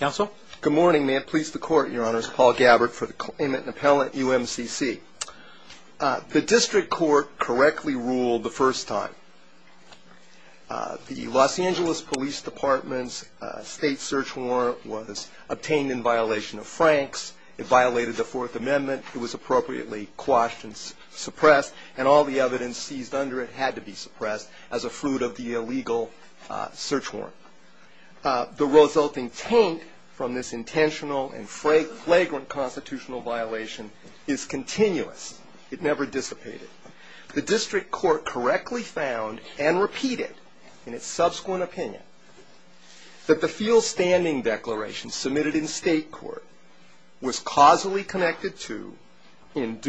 Good morning, may it please the court, your honors, Paul Gabbard for the Clement & Appellant, UMCC. The district court correctly ruled the first time. The Los Angeles Police Department's state search warrant was obtained in violation of Franks, it violated the Fourth Amendment, it was appropriately quashed and suppressed, and all the evidence seized under it had to be suppressed as a fruit of the illegal search warrant. The resulting taint from this intentional and flagrant constitutional violation is continuous, it never dissipated. The district court correctly found and repeated in its subsequent opinion that the field standing declaration submitted in state court was causally connected to, from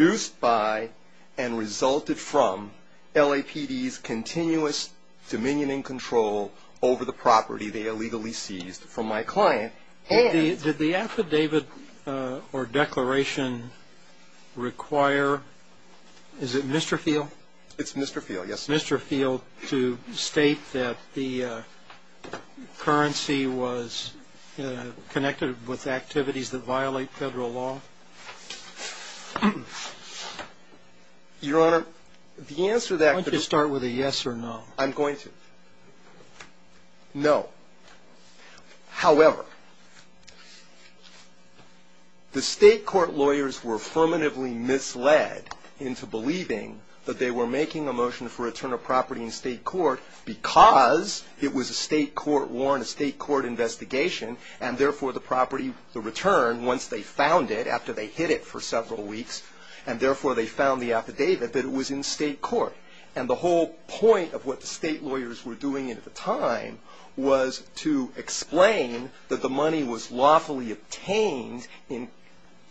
my client and... Did the affidavit or declaration require, is it Mr. Field? It's Mr. Field, yes. Mr. Field to state that the currency was connected with activities that violate federal law? Your honor, the answer to that... Why don't you start with a yes or no? I'm going to. No. However, the state court lawyers were affirmatively misled into believing that they were making a motion for return of property in state court because it was a state court warrant, a state court investigation, and therefore the property, the return, once they found it, after they hid it for several weeks, and therefore they found the affidavit, that it was in state court. And the whole point of what the state lawyers were doing at the time was to explain that the money was lawfully obtained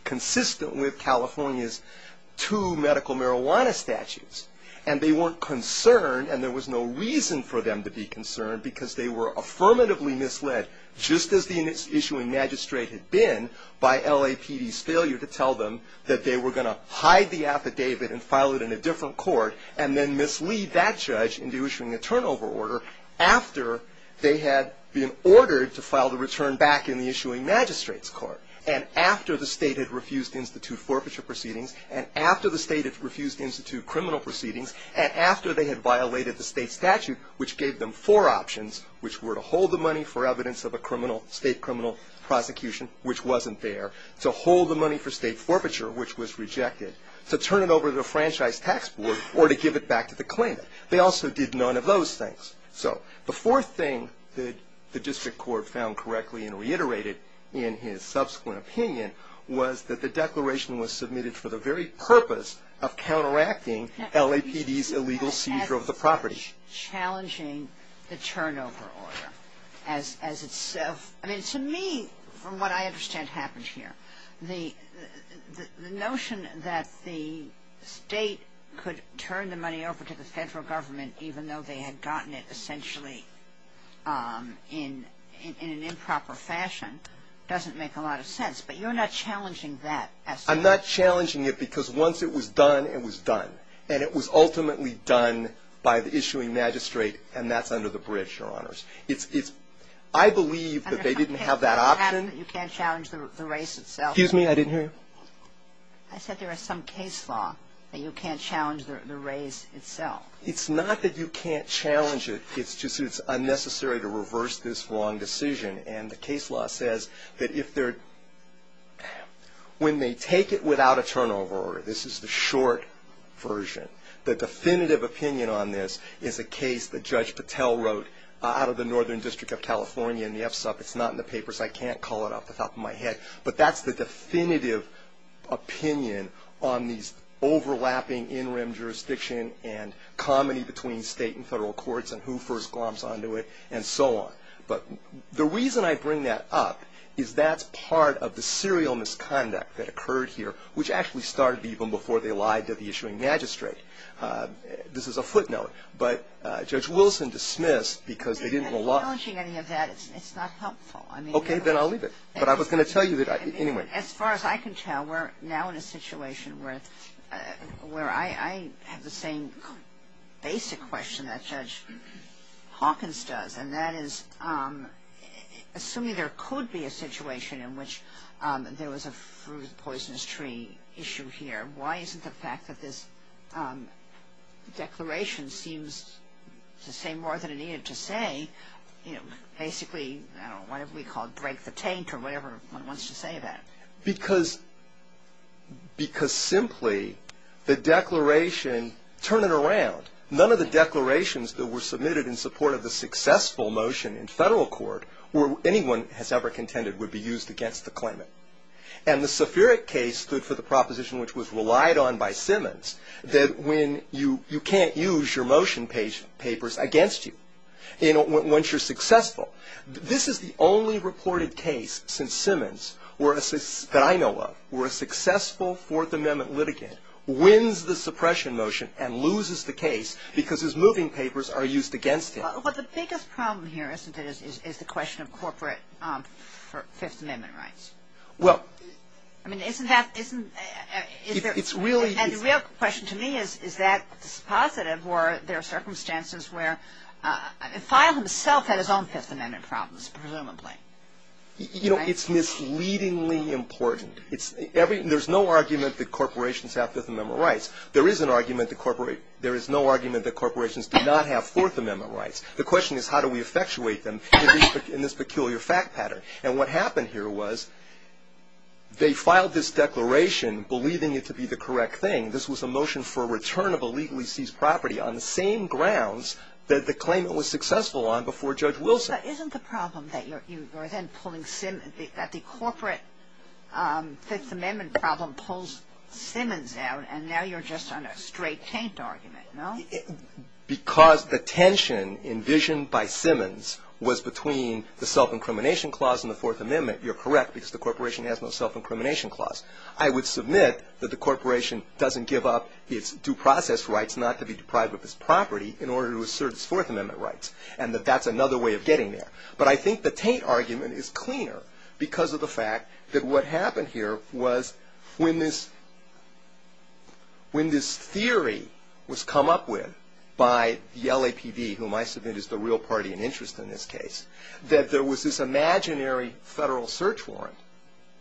consistent with California's two medical marijuana statutes. And they weren't concerned, and there was no reason for them to be concerned, because they were affirmatively misled, just as the issuing magistrate had been, by LAPD's failure to tell them that they were going to hide the affidavit and file it in a different court, and then mislead that judge into issuing a turnover order after they had been ordered to file the return back in the issuing magistrate's court, and after the state had refused institute forfeiture proceedings, and after the state had refused institute criminal proceedings, and after they had violated the state statute, which gave them four options, which were to hold the money for evidence of a state criminal prosecution, which wasn't there, to hold the money for state forfeiture, which was rejected, to turn it over to the franchise tax board, or to give it back to the claimant. They also did none of those things. So the fourth thing that the district court found correctly and reiterated in his subsequent opinion was that the declaration was submitted for the very purpose of counteracting LAPD's illegal seizure of the property. You're not challenging the turnover order as itself. I mean, to me, from what I understand happened here, the notion that the state could turn the money over to the federal government, even though they had gotten it essentially in an improper fashion, doesn't make a lot of sense. But you're not challenging that as such. I'm not challenging it because once it was done, it was done. And it was ultimately done by the issuing magistrate, and that's under the bridge, Your Honors. It's – I believe that they didn't have that option. You can't challenge the race itself. Excuse me. I didn't hear you. I said there is some case law that you can't challenge the race itself. It's not that you can't challenge it. It's just it's unnecessary to reverse this wrong decision. And the case law says that if they're – when they take it without a turnover order, this is the short version. The definitive opinion on this is a case that Judge Patel wrote out of the Northern District of California in the FSUP. It's not in the papers. I can't call it off the top of my head. But that's the definitive opinion on these overlapping in-rim jurisdiction and comedy between state and federal courts and who first glomps onto it and so on. But the reason I bring that up is that's part of the serial misconduct that occurred here, which actually started even before they lied to the issuing magistrate. This is a footnote. But Judge Wilson dismissed because they didn't – I'm not challenging any of that. It's not helpful. I mean – Okay. Then I'll leave it. But I was going to tell you that – anyway. As far as I can tell, we're now in a situation where I have the same basic question that Judge Hawkins does, and that is, assuming there could be a situation in which there was a fruit-of-poisonous-tree issue here, why isn't the fact that this declaration seems to say more than it needed to say, basically, I don't know, whatever we call it, break the taint or whatever one wants to say about it? Because simply the declaration – turn it around. None of the declarations that were submitted in support of the successful motion in federal court or anyone has ever contended would be used against the claimant. And the Sephiric case stood for the proposition which was relied on by Simmons, that when you – you can't use your motion papers against you once you're successful. This is the only reported case since Simmons that I know of where a successful Fourth Amendment litigant wins the suppression motion and loses the case because his moving papers are used against him. But the biggest problem here, isn't it, is the question of corporate Fifth Amendment rights. Well – I mean, isn't that – isn't – It's really – And the real question to me is, is that positive, or there are circumstances where – Fial himself had his own Fifth Amendment problems, presumably. You know, it's misleadingly important. There's no argument that corporations have Fifth Amendment rights. There is an argument that – there is no argument that corporations do not have Fourth Amendment rights. The question is, how do we effectuate them in this peculiar fact pattern? And what happened here was they filed this declaration believing it to be the correct thing. This was a motion for a return of illegally seized property on the same grounds that the claimant was successful on before Judge Wilson. So isn't the problem that you're then pulling – that the corporate Fifth Amendment problem pulls Simmons out, and now you're just on a straight-taint argument, no? Because the tension envisioned by Simmons was between the self-incrimination clause and the Fourth Amendment, you're correct because the corporation has no self-incrimination clause. I would submit that the corporation doesn't give up its due process rights not to be deprived of its property in order to assert its Fourth Amendment rights, and that that's another way of getting there. But I think the taint argument is cleaner because of the fact that what happened here was when this – when this theory was come up with by the LAPD, whom I submit is the real party in interest in this case, that there was this imaginary federal search warrant,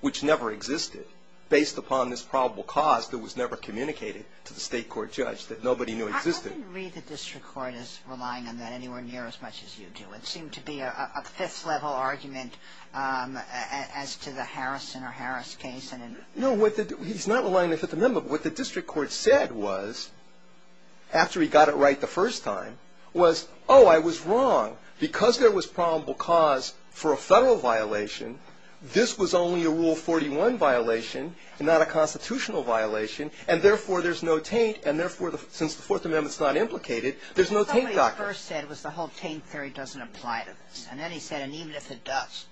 which never existed, based upon this probable cause that was never communicated to the state court judge that nobody knew existed. I didn't read the district court as relying on that anywhere near as much as you do. It seemed to be a fifth-level argument as to the Harrison or Harris case. No, he's not relying on the Fifth Amendment. What the district court said was, after he got it right the first time, was, oh, I was wrong. Because there was probable cause for a federal violation, this was only a Rule 41 violation and not a constitutional violation, and therefore there's no taint, and therefore, since the Fourth Amendment's not implicated, there's no taint doctrine. Well, what he first said was the whole taint theory doesn't apply to this. And then he said, and even if it does,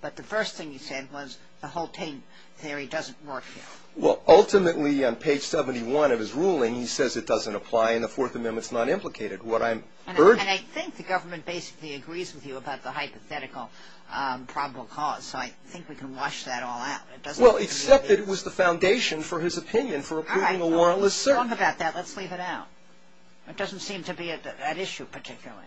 but the first thing he said was the whole taint theory doesn't work here. Well, ultimately, on page 71 of his ruling, he says it doesn't apply and the Fourth Amendment's not implicated. What I'm urging – And I think the government basically agrees with you about the hypothetical probable cause, so I think we can wash that all out. Well, except that it was the foundation for his opinion for approving a warrantless search. Well, if you're wrong about that, let's leave it out. It doesn't seem to be at issue particularly.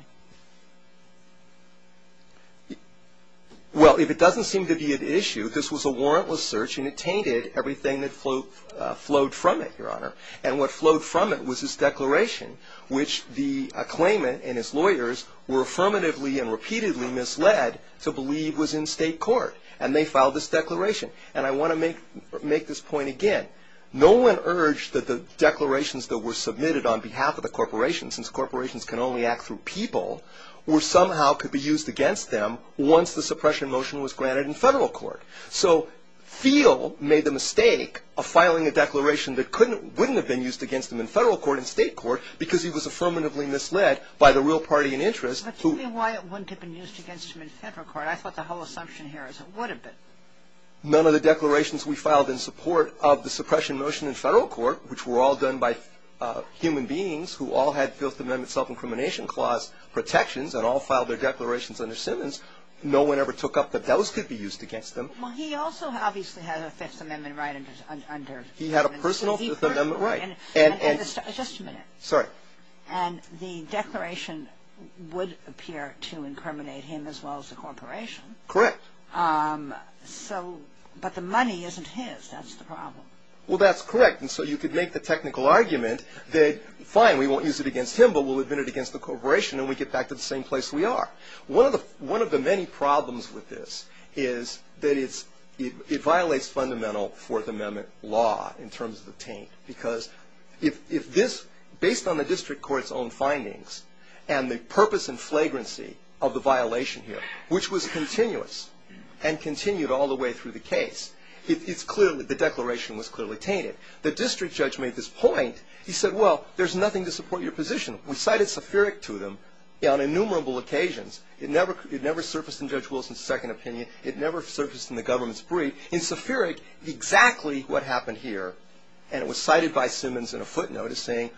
Well, if it doesn't seem to be at issue, this was a warrantless search, and it tainted everything that flowed from it, Your Honor. And what flowed from it was his declaration, which the claimant and his lawyers were affirmatively and repeatedly misled to believe was in state court. And they filed this declaration. And I want to make this point again. No one urged that the declarations that were submitted on behalf of the corporations, since corporations can only act through people, somehow could be used against them once the suppression motion was granted in federal court. So Thiel made the mistake of filing a declaration that wouldn't have been used against him in federal court, in state court, because he was affirmatively misled by the real party in interest. But tell me why it wouldn't have been used against him in federal court. I thought the whole assumption here is it would have been. None of the declarations we filed in support of the suppression motion in federal court, which were all done by human beings who all had Fifth Amendment self-incrimination clause protections and all filed their declarations under Simmons. No one ever took up that those could be used against them. Well, he also obviously had a Fifth Amendment right under him. He had a personal Fifth Amendment right. Just a minute. Sorry. And the declaration would appear to incriminate him as well as the corporation. Correct. So, but the money isn't his. That's the problem. Well, that's correct. And so you could make the technical argument that, fine, we won't use it against him, but we'll admit it against the corporation and we get back to the same place we are. One of the many problems with this is that it violates fundamental Fourth Amendment law in terms of the taint. Because if this, based on the district court's own findings and the purpose and flagrancy of the violation here, which was continuous and continued all the way through the case, the declaration was clearly tainted. The district judge made this point. He said, well, there's nothing to support your position. We cited sephiric to them on innumerable occasions. It never surfaced in Judge Wilson's second opinion. It never surfaced in the government's brief. In sephiric, exactly what happened here, and it was cited by Simmons in a footnote, is saying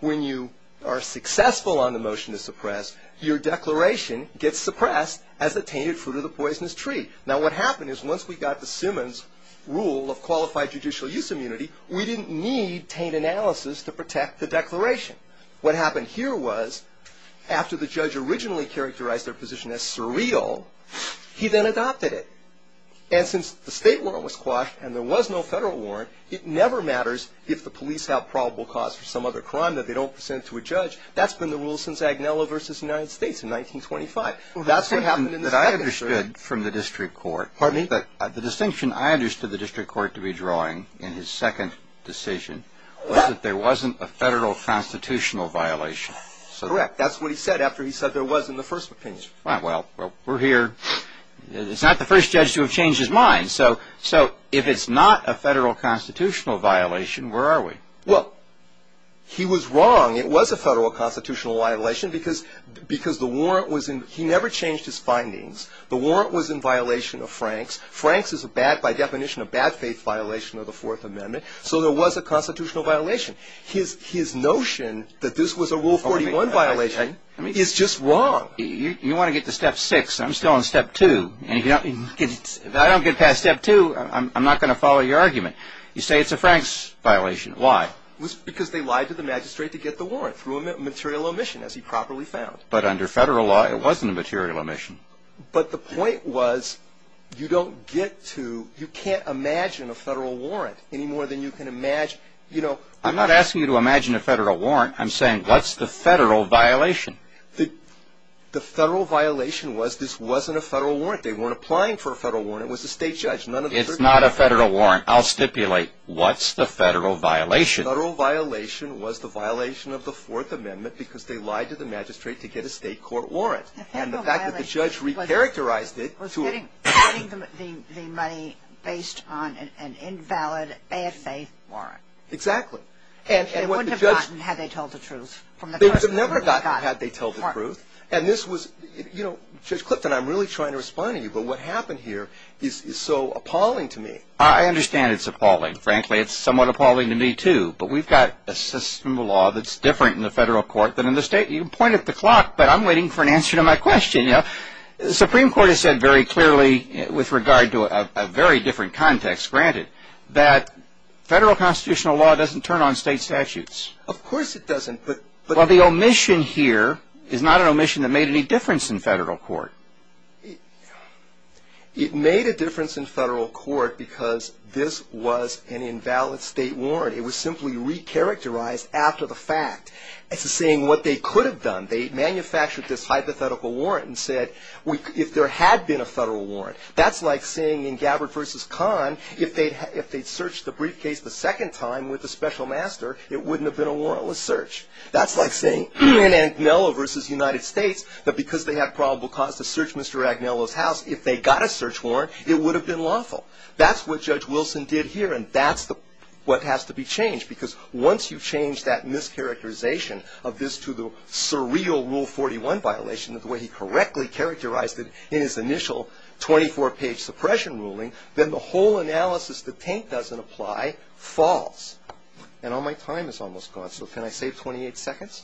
when you are successful on the motion to suppress, your declaration gets suppressed as a tainted fruit of the poisonous tree. Now, what happened is once we got the Simmons rule of qualified judicial use immunity, we didn't need taint analysis to protect the declaration. What happened here was after the judge originally characterized their position as surreal, he then adopted it. And since the state warrant was quashed and there was no federal warrant, it never matters if the police have probable cause for some other crime that they don't present to a judge. That's been the rule since Agnello versus the United States in 1925. That's what happened in the second. What I understood from the district court. Pardon me? The distinction I understood the district court to be drawing in his second decision was that there wasn't a federal constitutional violation. Correct. That's what he said after he said there was in the first opinion. Well, we're here. It's not the first judge to have changed his mind. So if it's not a federal constitutional violation, where are we? Well, he was wrong. It was a federal constitutional violation because the warrant was in. He never changed his findings. The warrant was in violation of Franks. Franks is a bad, by definition, a bad faith violation of the Fourth Amendment. So there was a constitutional violation. His notion that this was a Rule 41 violation is just wrong. You want to get to step six. I'm still on step two. If I don't get past step two, I'm not going to follow your argument. You say it's a Franks violation. Why? Because they lied to the magistrate to get the warrant through a material omission, as he properly found. But under federal law, it wasn't a material omission. But the point was you don't get to. You can't imagine a federal warrant any more than you can imagine. I'm not asking you to imagine a federal warrant. I'm saying what's the federal violation? The federal violation was this wasn't a federal warrant. They weren't applying for a federal warrant. It was a state judge. It's not a federal warrant. I'll stipulate. What's the federal violation? The federal violation was the violation of the Fourth Amendment because they lied to the magistrate to get a state court warrant. And the fact that the judge re-characterized it was getting the money based on an invalid, bad faith warrant. Exactly. And it wouldn't have gotten had they told the truth. They would have never gotten had they told the truth. And this was, you know, Judge Clifton, I'm really trying to respond to you, but what happened here is so appalling to me. I understand it's appalling. Frankly, it's somewhat appalling to me, too. But we've got a system of law that's different in the federal court than in the state. You point at the clock, but I'm waiting for an answer to my question. The Supreme Court has said very clearly with regard to a very different context, granted, that federal constitutional law doesn't turn on state statutes. Of course it doesn't. Well, the omission here is not an omission that made any difference in federal court. It made a difference in federal court because this was an invalid state warrant. It was simply re-characterized after the fact. It's saying what they could have done. They manufactured this hypothetical warrant and said if there had been a federal warrant. That's like saying in Gabbard v. Kahn, if they'd searched the briefcase the second time with a special master, it wouldn't have been a warrantless search. That's like saying in Agnello v. United States that because they had probable cause to search Mr. Agnello's house, if they got a search warrant, it would have been lawful. That's what Judge Wilson did here, and that's what has to be changed. Because once you change that mischaracterization of this to the surreal Rule 41 violation, the way he correctly characterized it in his initial 24-page suppression ruling, then the whole analysis that Taint doesn't apply falls. And all my time is almost gone, so can I save 28 seconds?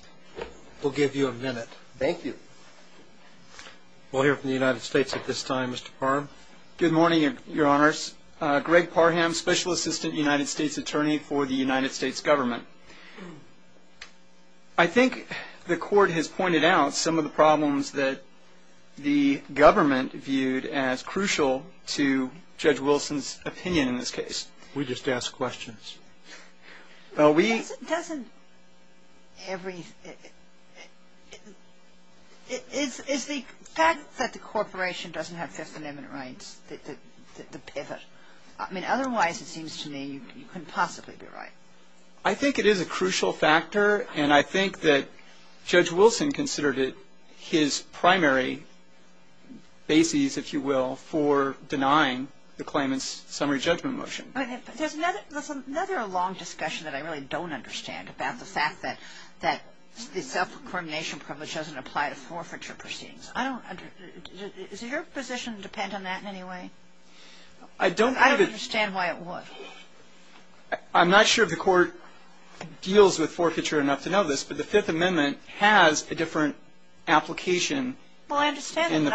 We'll give you a minute. Thank you. We'll hear from the United States at this time. Mr. Parham? Good morning, Your Honors. Greg Parham, Special Assistant United States Attorney for the United States Government. I think the Court has pointed out some of the problems that the government viewed as crucial to Judge Wilson's opinion in this case. We just ask questions. Well, we — Doesn't every — is the fact that the corporation doesn't have Fifth Amendment rights the pivot? I mean, otherwise it seems to me you couldn't possibly be right. I think it is a crucial factor, and I think that Judge Wilson considered it his primary basis, if you will, for denying the claimant's summary judgment motion. But there's another long discussion that I really don't understand about the fact that the self-incrimination privilege doesn't apply to forfeiture proceedings. I don't — does your position depend on that in any way? I don't have a — I don't understand why it would. I'm not sure if the Court deals with forfeiture enough to know this, but the Fifth Amendment has a different application in the forfeiture world. Well, I understand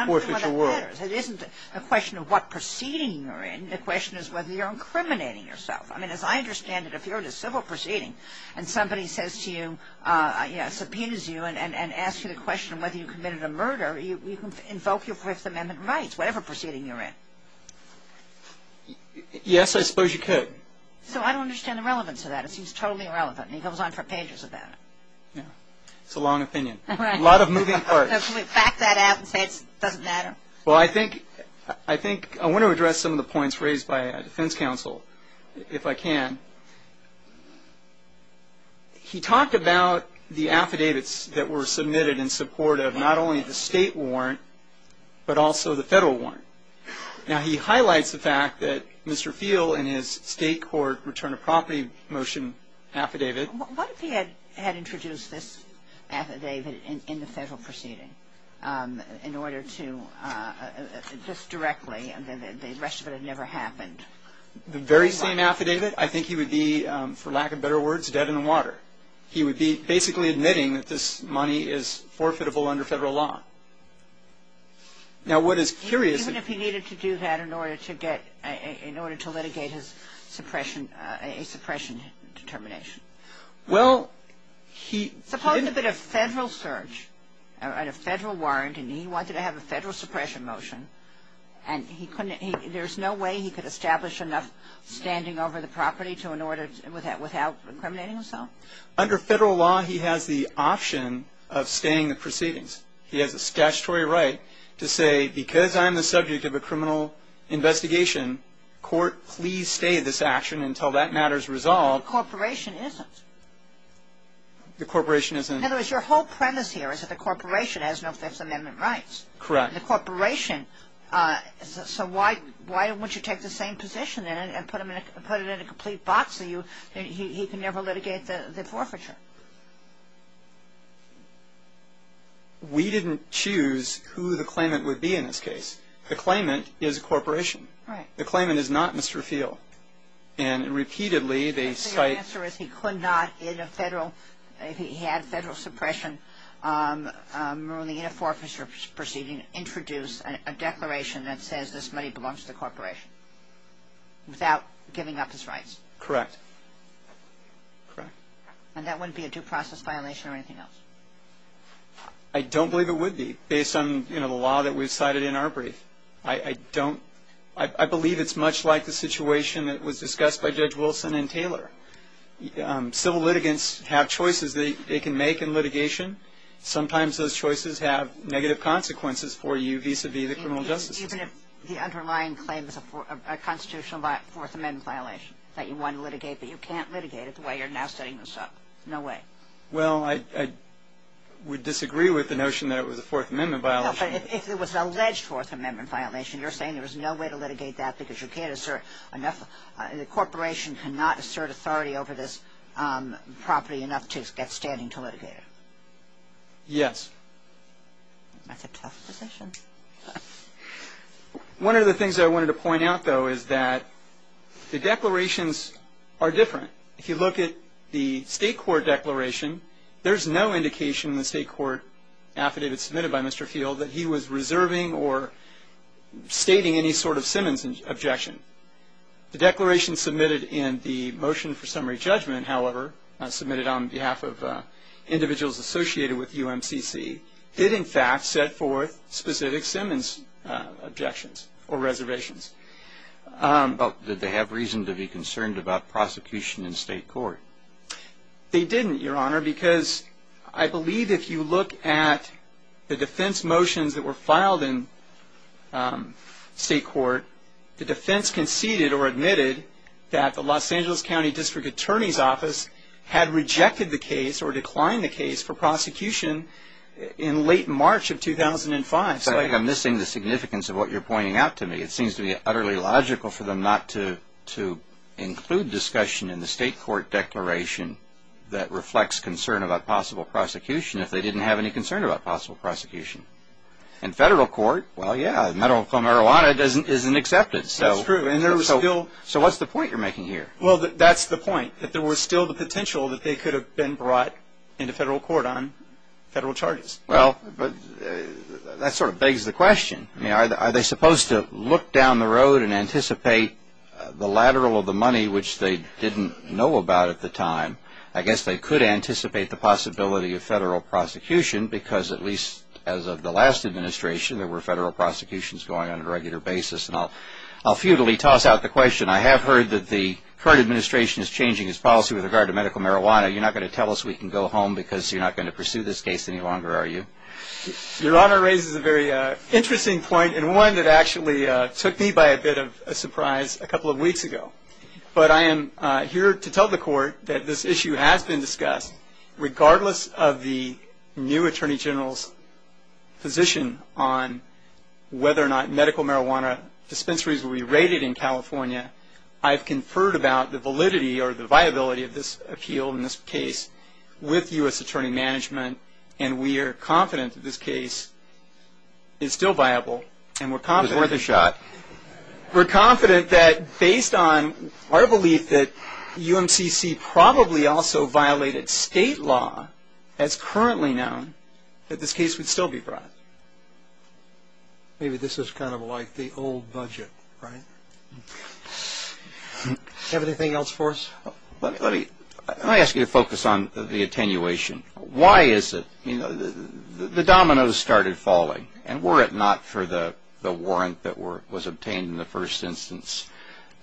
that. It isn't a question of what proceeding you're in. The question is whether you're incriminating yourself. I mean, as I understand it, if you're in a civil proceeding and somebody says to you — subpoenas you and asks you the question of whether you committed a murder, you can invoke your Fifth Amendment rights, whatever proceeding you're in. Yes, I suppose you could. So I don't understand the relevance of that. It seems totally irrelevant, and he goes on for pages about it. Yeah. It's a long opinion. Right. A lot of moving parts. Can we back that out and say it doesn't matter? Well, I think — I think — I want to address some of the points raised by a defense counsel, if I can. He talked about the affidavits that were submitted in support of not only the state warrant, but also the federal warrant. Now, he highlights the fact that Mr. Feele in his state court return of property motion affidavit — What if he had introduced this affidavit in the federal proceeding in order to — just directly, and the rest of it had never happened? The very same affidavit? I think he would be, for lack of better words, dead in the water. He would be basically admitting that this money is forfeitable under federal law. Now, what is curious — Even if he needed to do that in order to get — in order to litigate his suppression — a suppression determination? Well, he — Suppose there had been a federal search and a federal warrant, and he wanted to have a federal suppression motion, and he couldn't — there's no way he could establish enough standing over the property to in order — without incriminating himself? Under federal law, he has the option of staying the proceedings. He has a statutory right to say, because I'm the subject of a criminal investigation, court, please stay this action until that matter is resolved. But the corporation isn't. The corporation isn't. In other words, your whole premise here is that the corporation has no Fifth Amendment rights. Correct. The corporation — so why would you take the same position and put it in a complete box so he can never litigate the forfeiture? We didn't choose who the claimant would be in this case. The claimant is a corporation. Right. The claimant is not Mr. Feele. And repeatedly, they cite — The answer is he could not, in a federal — if he had federal suppression, ruin the uniform of his proceeding, introduce a declaration that says this money belongs to the corporation, without giving up his rights. Correct. Correct. And that wouldn't be a due process violation or anything else? I don't believe it would be, based on, you know, the law that we've cited in our brief. I don't — I believe it's much like the situation that was discussed by Judge Wilson and Taylor. Civil litigants have choices they can make in litigation. Sometimes those choices have negative consequences for you vis-à-vis the criminal justice system. Even if the underlying claim is a constitutional Fourth Amendment violation that you want to litigate, but you can't litigate it the way you're now setting this up. No way. Well, I would disagree with the notion that it was a Fourth Amendment violation. No, but if it was an alleged Fourth Amendment violation, you're saying there was no way to litigate that because you can't assert enough — the corporation cannot assert authority over this property enough to get standing to litigate it? Yes. That's a tough position. One of the things I wanted to point out, though, is that the declarations are different. If you look at the state court declaration, there's no indication in the state court affidavit submitted by Mr. Field that he was reserving or stating any sort of Simmons objection. The declaration submitted in the motion for summary judgment, however, submitted on behalf of individuals associated with UMCC, did in fact set forth specific Simmons objections or reservations. But did they have reason to be concerned about prosecution in state court? They didn't, Your Honor, because I believe if you look at the defense motions that were filed in state court, the defense conceded or admitted that the Los Angeles County District Attorney's Office had rejected the case or declined the case for prosecution in late March of 2005. I think I'm missing the significance of what you're pointing out to me. It seems to be utterly logical for them not to include discussion in the state court declaration that reflects concern about possible prosecution if they didn't have any concern about possible prosecution. In federal court, well, yeah, medical marijuana isn't accepted. That's true. So what's the point you're making here? Well, that's the point, that there was still the potential that they could have been brought into federal court on federal charges. Well, but that sort of begs the question. I mean, are they supposed to look down the road and anticipate the lateral of the money, which they didn't know about at the time? I guess they could anticipate the possibility of federal prosecution because, at least as of the last administration, there were federal prosecutions going on a regular basis. And I'll futilely toss out the question. I have heard that the current administration is changing its policy with regard to medical marijuana. You're not going to tell us we can go home because you're not going to pursue this case any longer, are you? Your Honor raises a very interesting point and one that actually took me by a bit of a surprise a couple of weeks ago. But I am here to tell the court that this issue has been discussed, regardless of the new attorney general's position on whether or not medical marijuana dispensaries will be rated in California. I've conferred about the validity or the viability of this appeal in this case with U.S. attorney management, and we are confident that this case is still viable and we're confident. Was that a shot? We're confident that based on our belief that UMCC probably also violated state law, as currently known, that this case would still be brought. Maybe this is kind of like the old budget, right? Do you have anything else for us? Let me ask you to focus on the attenuation. Why is it, you know, the dominoes started falling, and were it not for the warrant that was obtained in the first instance,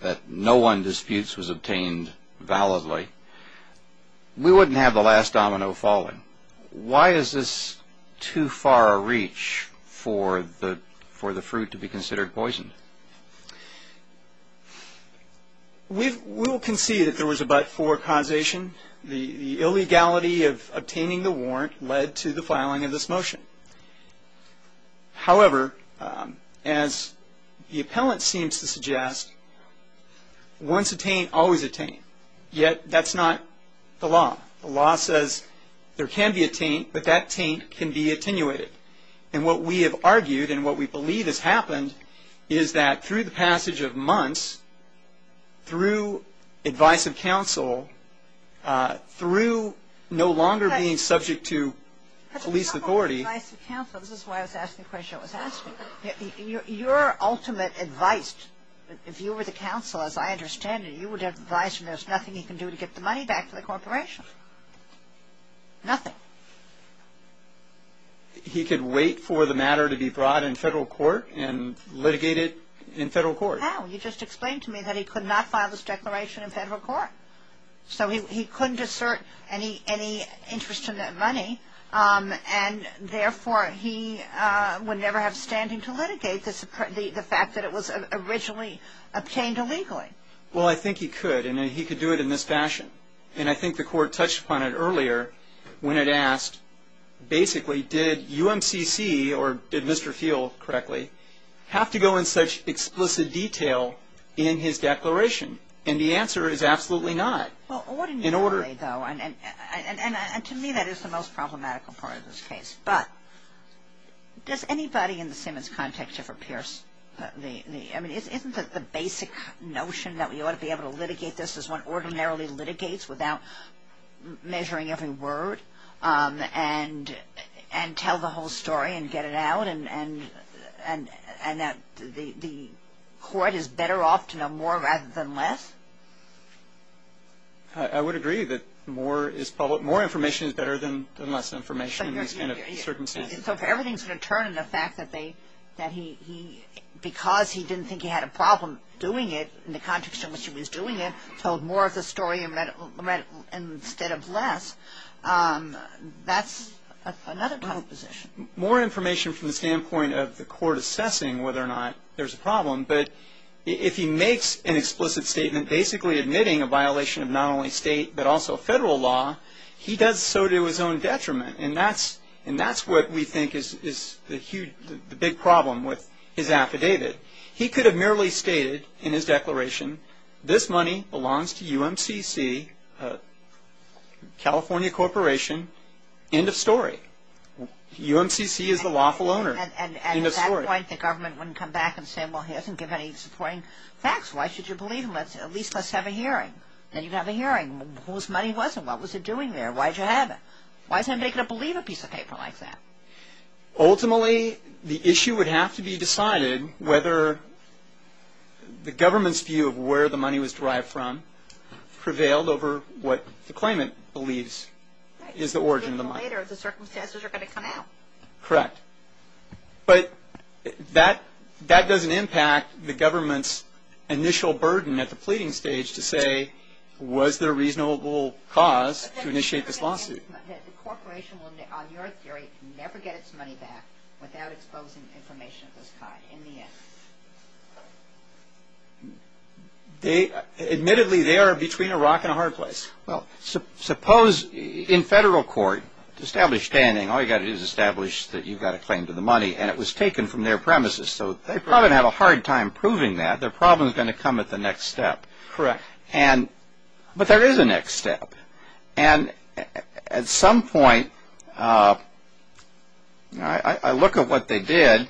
that no one disputes was obtained validly, we wouldn't have the last domino falling. Why is this too far a reach for the fruit to be considered poisoned? We will concede that there was a but-for causation. The illegality of obtaining the warrant led to the filing of this motion. However, as the appellant seems to suggest, once attained, always attained. Yet, that's not the law. The law says there can be a taint, but that taint can be attenuated. And what we have argued and what we believe has happened is that through the passage of months, through advice of counsel, through no longer being subject to police authority. Advice of counsel, this is why I was asking the question I was asking. Your ultimate advice, if you were the counsel, as I understand it, you would advise him there's nothing he can do to get the money back to the corporation. Nothing. He could wait for the matter to be brought in federal court and litigate it in federal court. How? You just explained to me that he could not file this declaration in federal court. So he couldn't assert any interest in that money, and therefore he would never have standing to litigate the fact that it was originally obtained illegally. Well, I think he could, and he could do it in this fashion. And I think the court touched upon it earlier when it asked, basically, did UMCC or did Mr. Field correctly have to go in such explicit detail in his declaration? And the answer is absolutely not. Well, ordinarily though, and to me that is the most problematical part of this case, but does anybody in the Simmons context ever pierce the, I mean, isn't it the basic notion that we ought to be able to litigate this as one ordinarily litigates without measuring every word and tell the whole story and get it out, and that the court is better off to know more rather than less? I would agree that more information is better than less information. So if everything is going to turn in the fact that he, because he didn't think he had a problem doing it in the context in which he was doing it, told more of the story instead of less, that's another kind of position. More information from the standpoint of the court assessing whether or not there's a problem, but if he makes an explicit statement basically admitting a violation of not only state but also federal law, he does so to his own detriment, and that's what we think is the big problem with his affidavit. He could have merely stated in his declaration, this money belongs to UMCC, California Corporation, end of story. UMCC is the lawful owner, end of story. And at that point the government wouldn't come back and say, well, he hasn't given any supporting facts, why should you believe him? At least let's have a hearing. Then you'd have a hearing. Whose money was it? What was it doing there? Why did you have it? Why is anybody going to believe a piece of paper like that? Ultimately the issue would have to be decided whether the government's view of where the money was derived from prevailed over what the claimant believes is the origin of the money. The circumstances are going to come out. Correct. But that doesn't impact the government's initial burden at the pleading stage to say, was there a reasonable cause to initiate this lawsuit? The corporation will, on your theory, never get its money back without exposing information of this kind in the end. Admittedly they are between a rock and a hard place. Well, suppose in federal court to establish standing all you've got to do is establish that you've got a claim to the money and it was taken from their premises. So they probably have a hard time proving that. Their problem is going to come at the next step. Correct. But there is a next step. And at some point I look at what they did.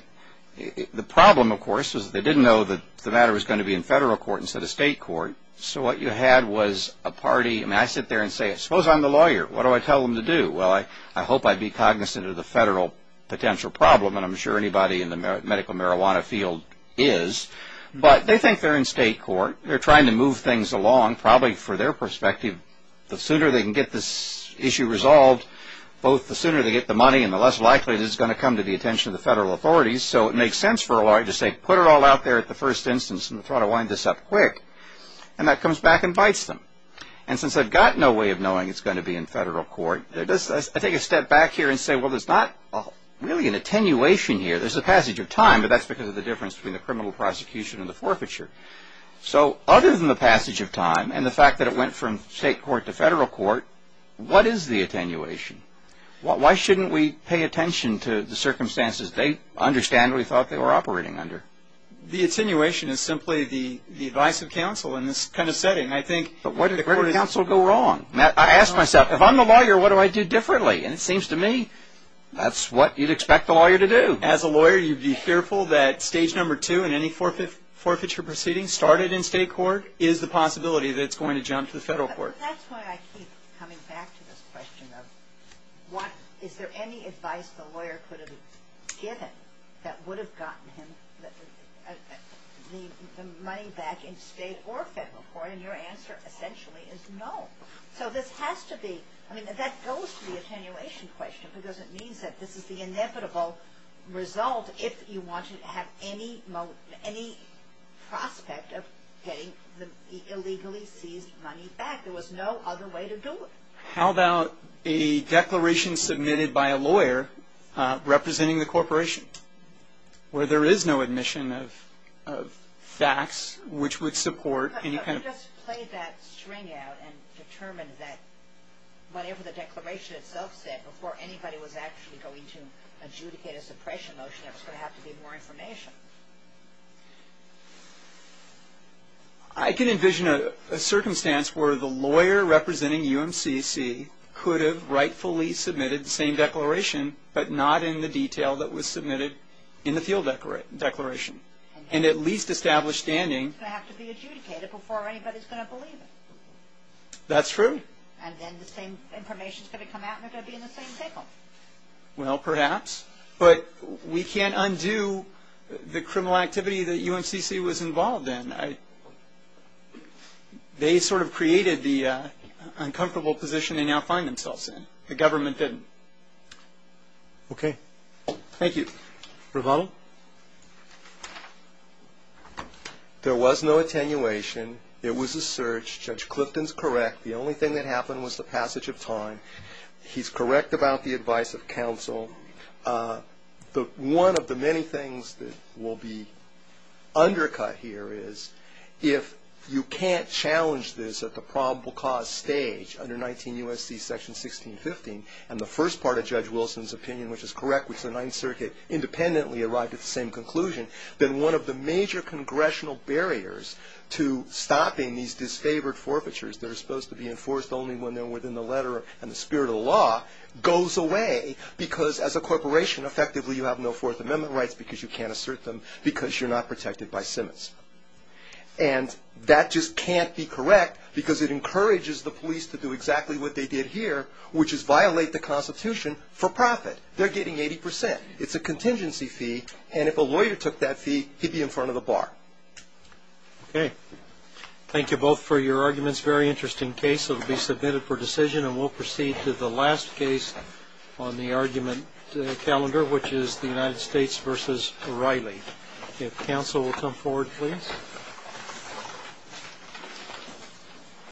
The problem, of course, is they didn't know that the matter was going to be in federal court instead of state court. So what you had was a party. I mean, I sit there and say, suppose I'm the lawyer. What do I tell them to do? Well, I hope I'd be cognizant of the federal potential problem, and I'm sure anybody in the medical marijuana field is. But they think they're in state court. They're trying to move things along probably for their perspective. The sooner they can get this issue resolved, both the sooner they get the money and the less likely it is it's going to come to the attention of the federal authorities. So it makes sense for a lawyer to say, put it all out there at the first instance and try to wind this up quick. And that comes back and bites them. And since they've got no way of knowing it's going to be in federal court, I take a step back here and say, well, there's not really an attenuation here. There's a passage of time, but that's because of the difference between the criminal prosecution and the forfeiture. So other than the passage of time and the fact that it went from state court to federal court, what is the attenuation? Why shouldn't we pay attention to the circumstances? They understand what we thought they were operating under. The attenuation is simply the advice of counsel in this kind of setting. I think the court is... But where did counsel go wrong? I ask myself, if I'm the lawyer, what do I do differently? And it seems to me that's what you'd expect the lawyer to do. As a lawyer, you'd be fearful that stage number two in any forfeiture proceeding, started in state court, is the possibility that it's going to jump to the federal court. That's why I keep coming back to this question of is there any advice the lawyer could have given that would have gotten him the money back in state or federal court? And your answer essentially is no. So this has to be... I mean, that goes to the attenuation question because it means that this is the inevitable result if you want to have any prospect of getting the illegally seized money back. There was no other way to do it. How about a declaration submitted by a lawyer representing the corporation where there is no admission of facts which would support any kind of... You just played that string out and determined that whatever the declaration itself said, before anybody was actually going to adjudicate a suppression motion, there was going to have to be more information. I can envision a circumstance where the lawyer representing UMCC could have rightfully submitted the same declaration, but not in the detail that was submitted in the field declaration and at least established standing. It's going to have to be adjudicated before anybody is going to believe it. That's true. And then the same information is going to come out and it's going to be in the same table. Well, perhaps. But we can't undo the criminal activity that UMCC was involved in. They sort of created the uncomfortable position they now find themselves in. The government didn't. Okay. Thank you. Ravana? There was no attenuation. It was a search. Judge Clifton is correct. The only thing that happened was the passage of time. He's correct about the advice of counsel. One of the many things that will be undercut here is if you can't challenge this at the probable cause stage under 19 U.S.C. Section 1615, and the first part of Judge Wilson's opinion, which is correct, which the Ninth Circuit independently arrived at the same conclusion, then one of the major congressional barriers to stopping these disfavored forfeitures that are supposed to be enforced only when they're within the letter and the spirit of the law, goes away because as a corporation, effectively, you have no Fourth Amendment rights because you can't assert them because you're not protected by Simmons. And that just can't be correct because it encourages the police to do exactly what they did here, which is violate the Constitution for profit. They're getting 80%. It's a contingency fee, and if a lawyer took that fee, he'd be in front of the bar. Okay. Thank you both for your arguments. Very interesting case. It will be submitted for decision, and we'll proceed to the last case on the argument calendar, which is the United States v. O'Reilly. If counsel will come forward, please.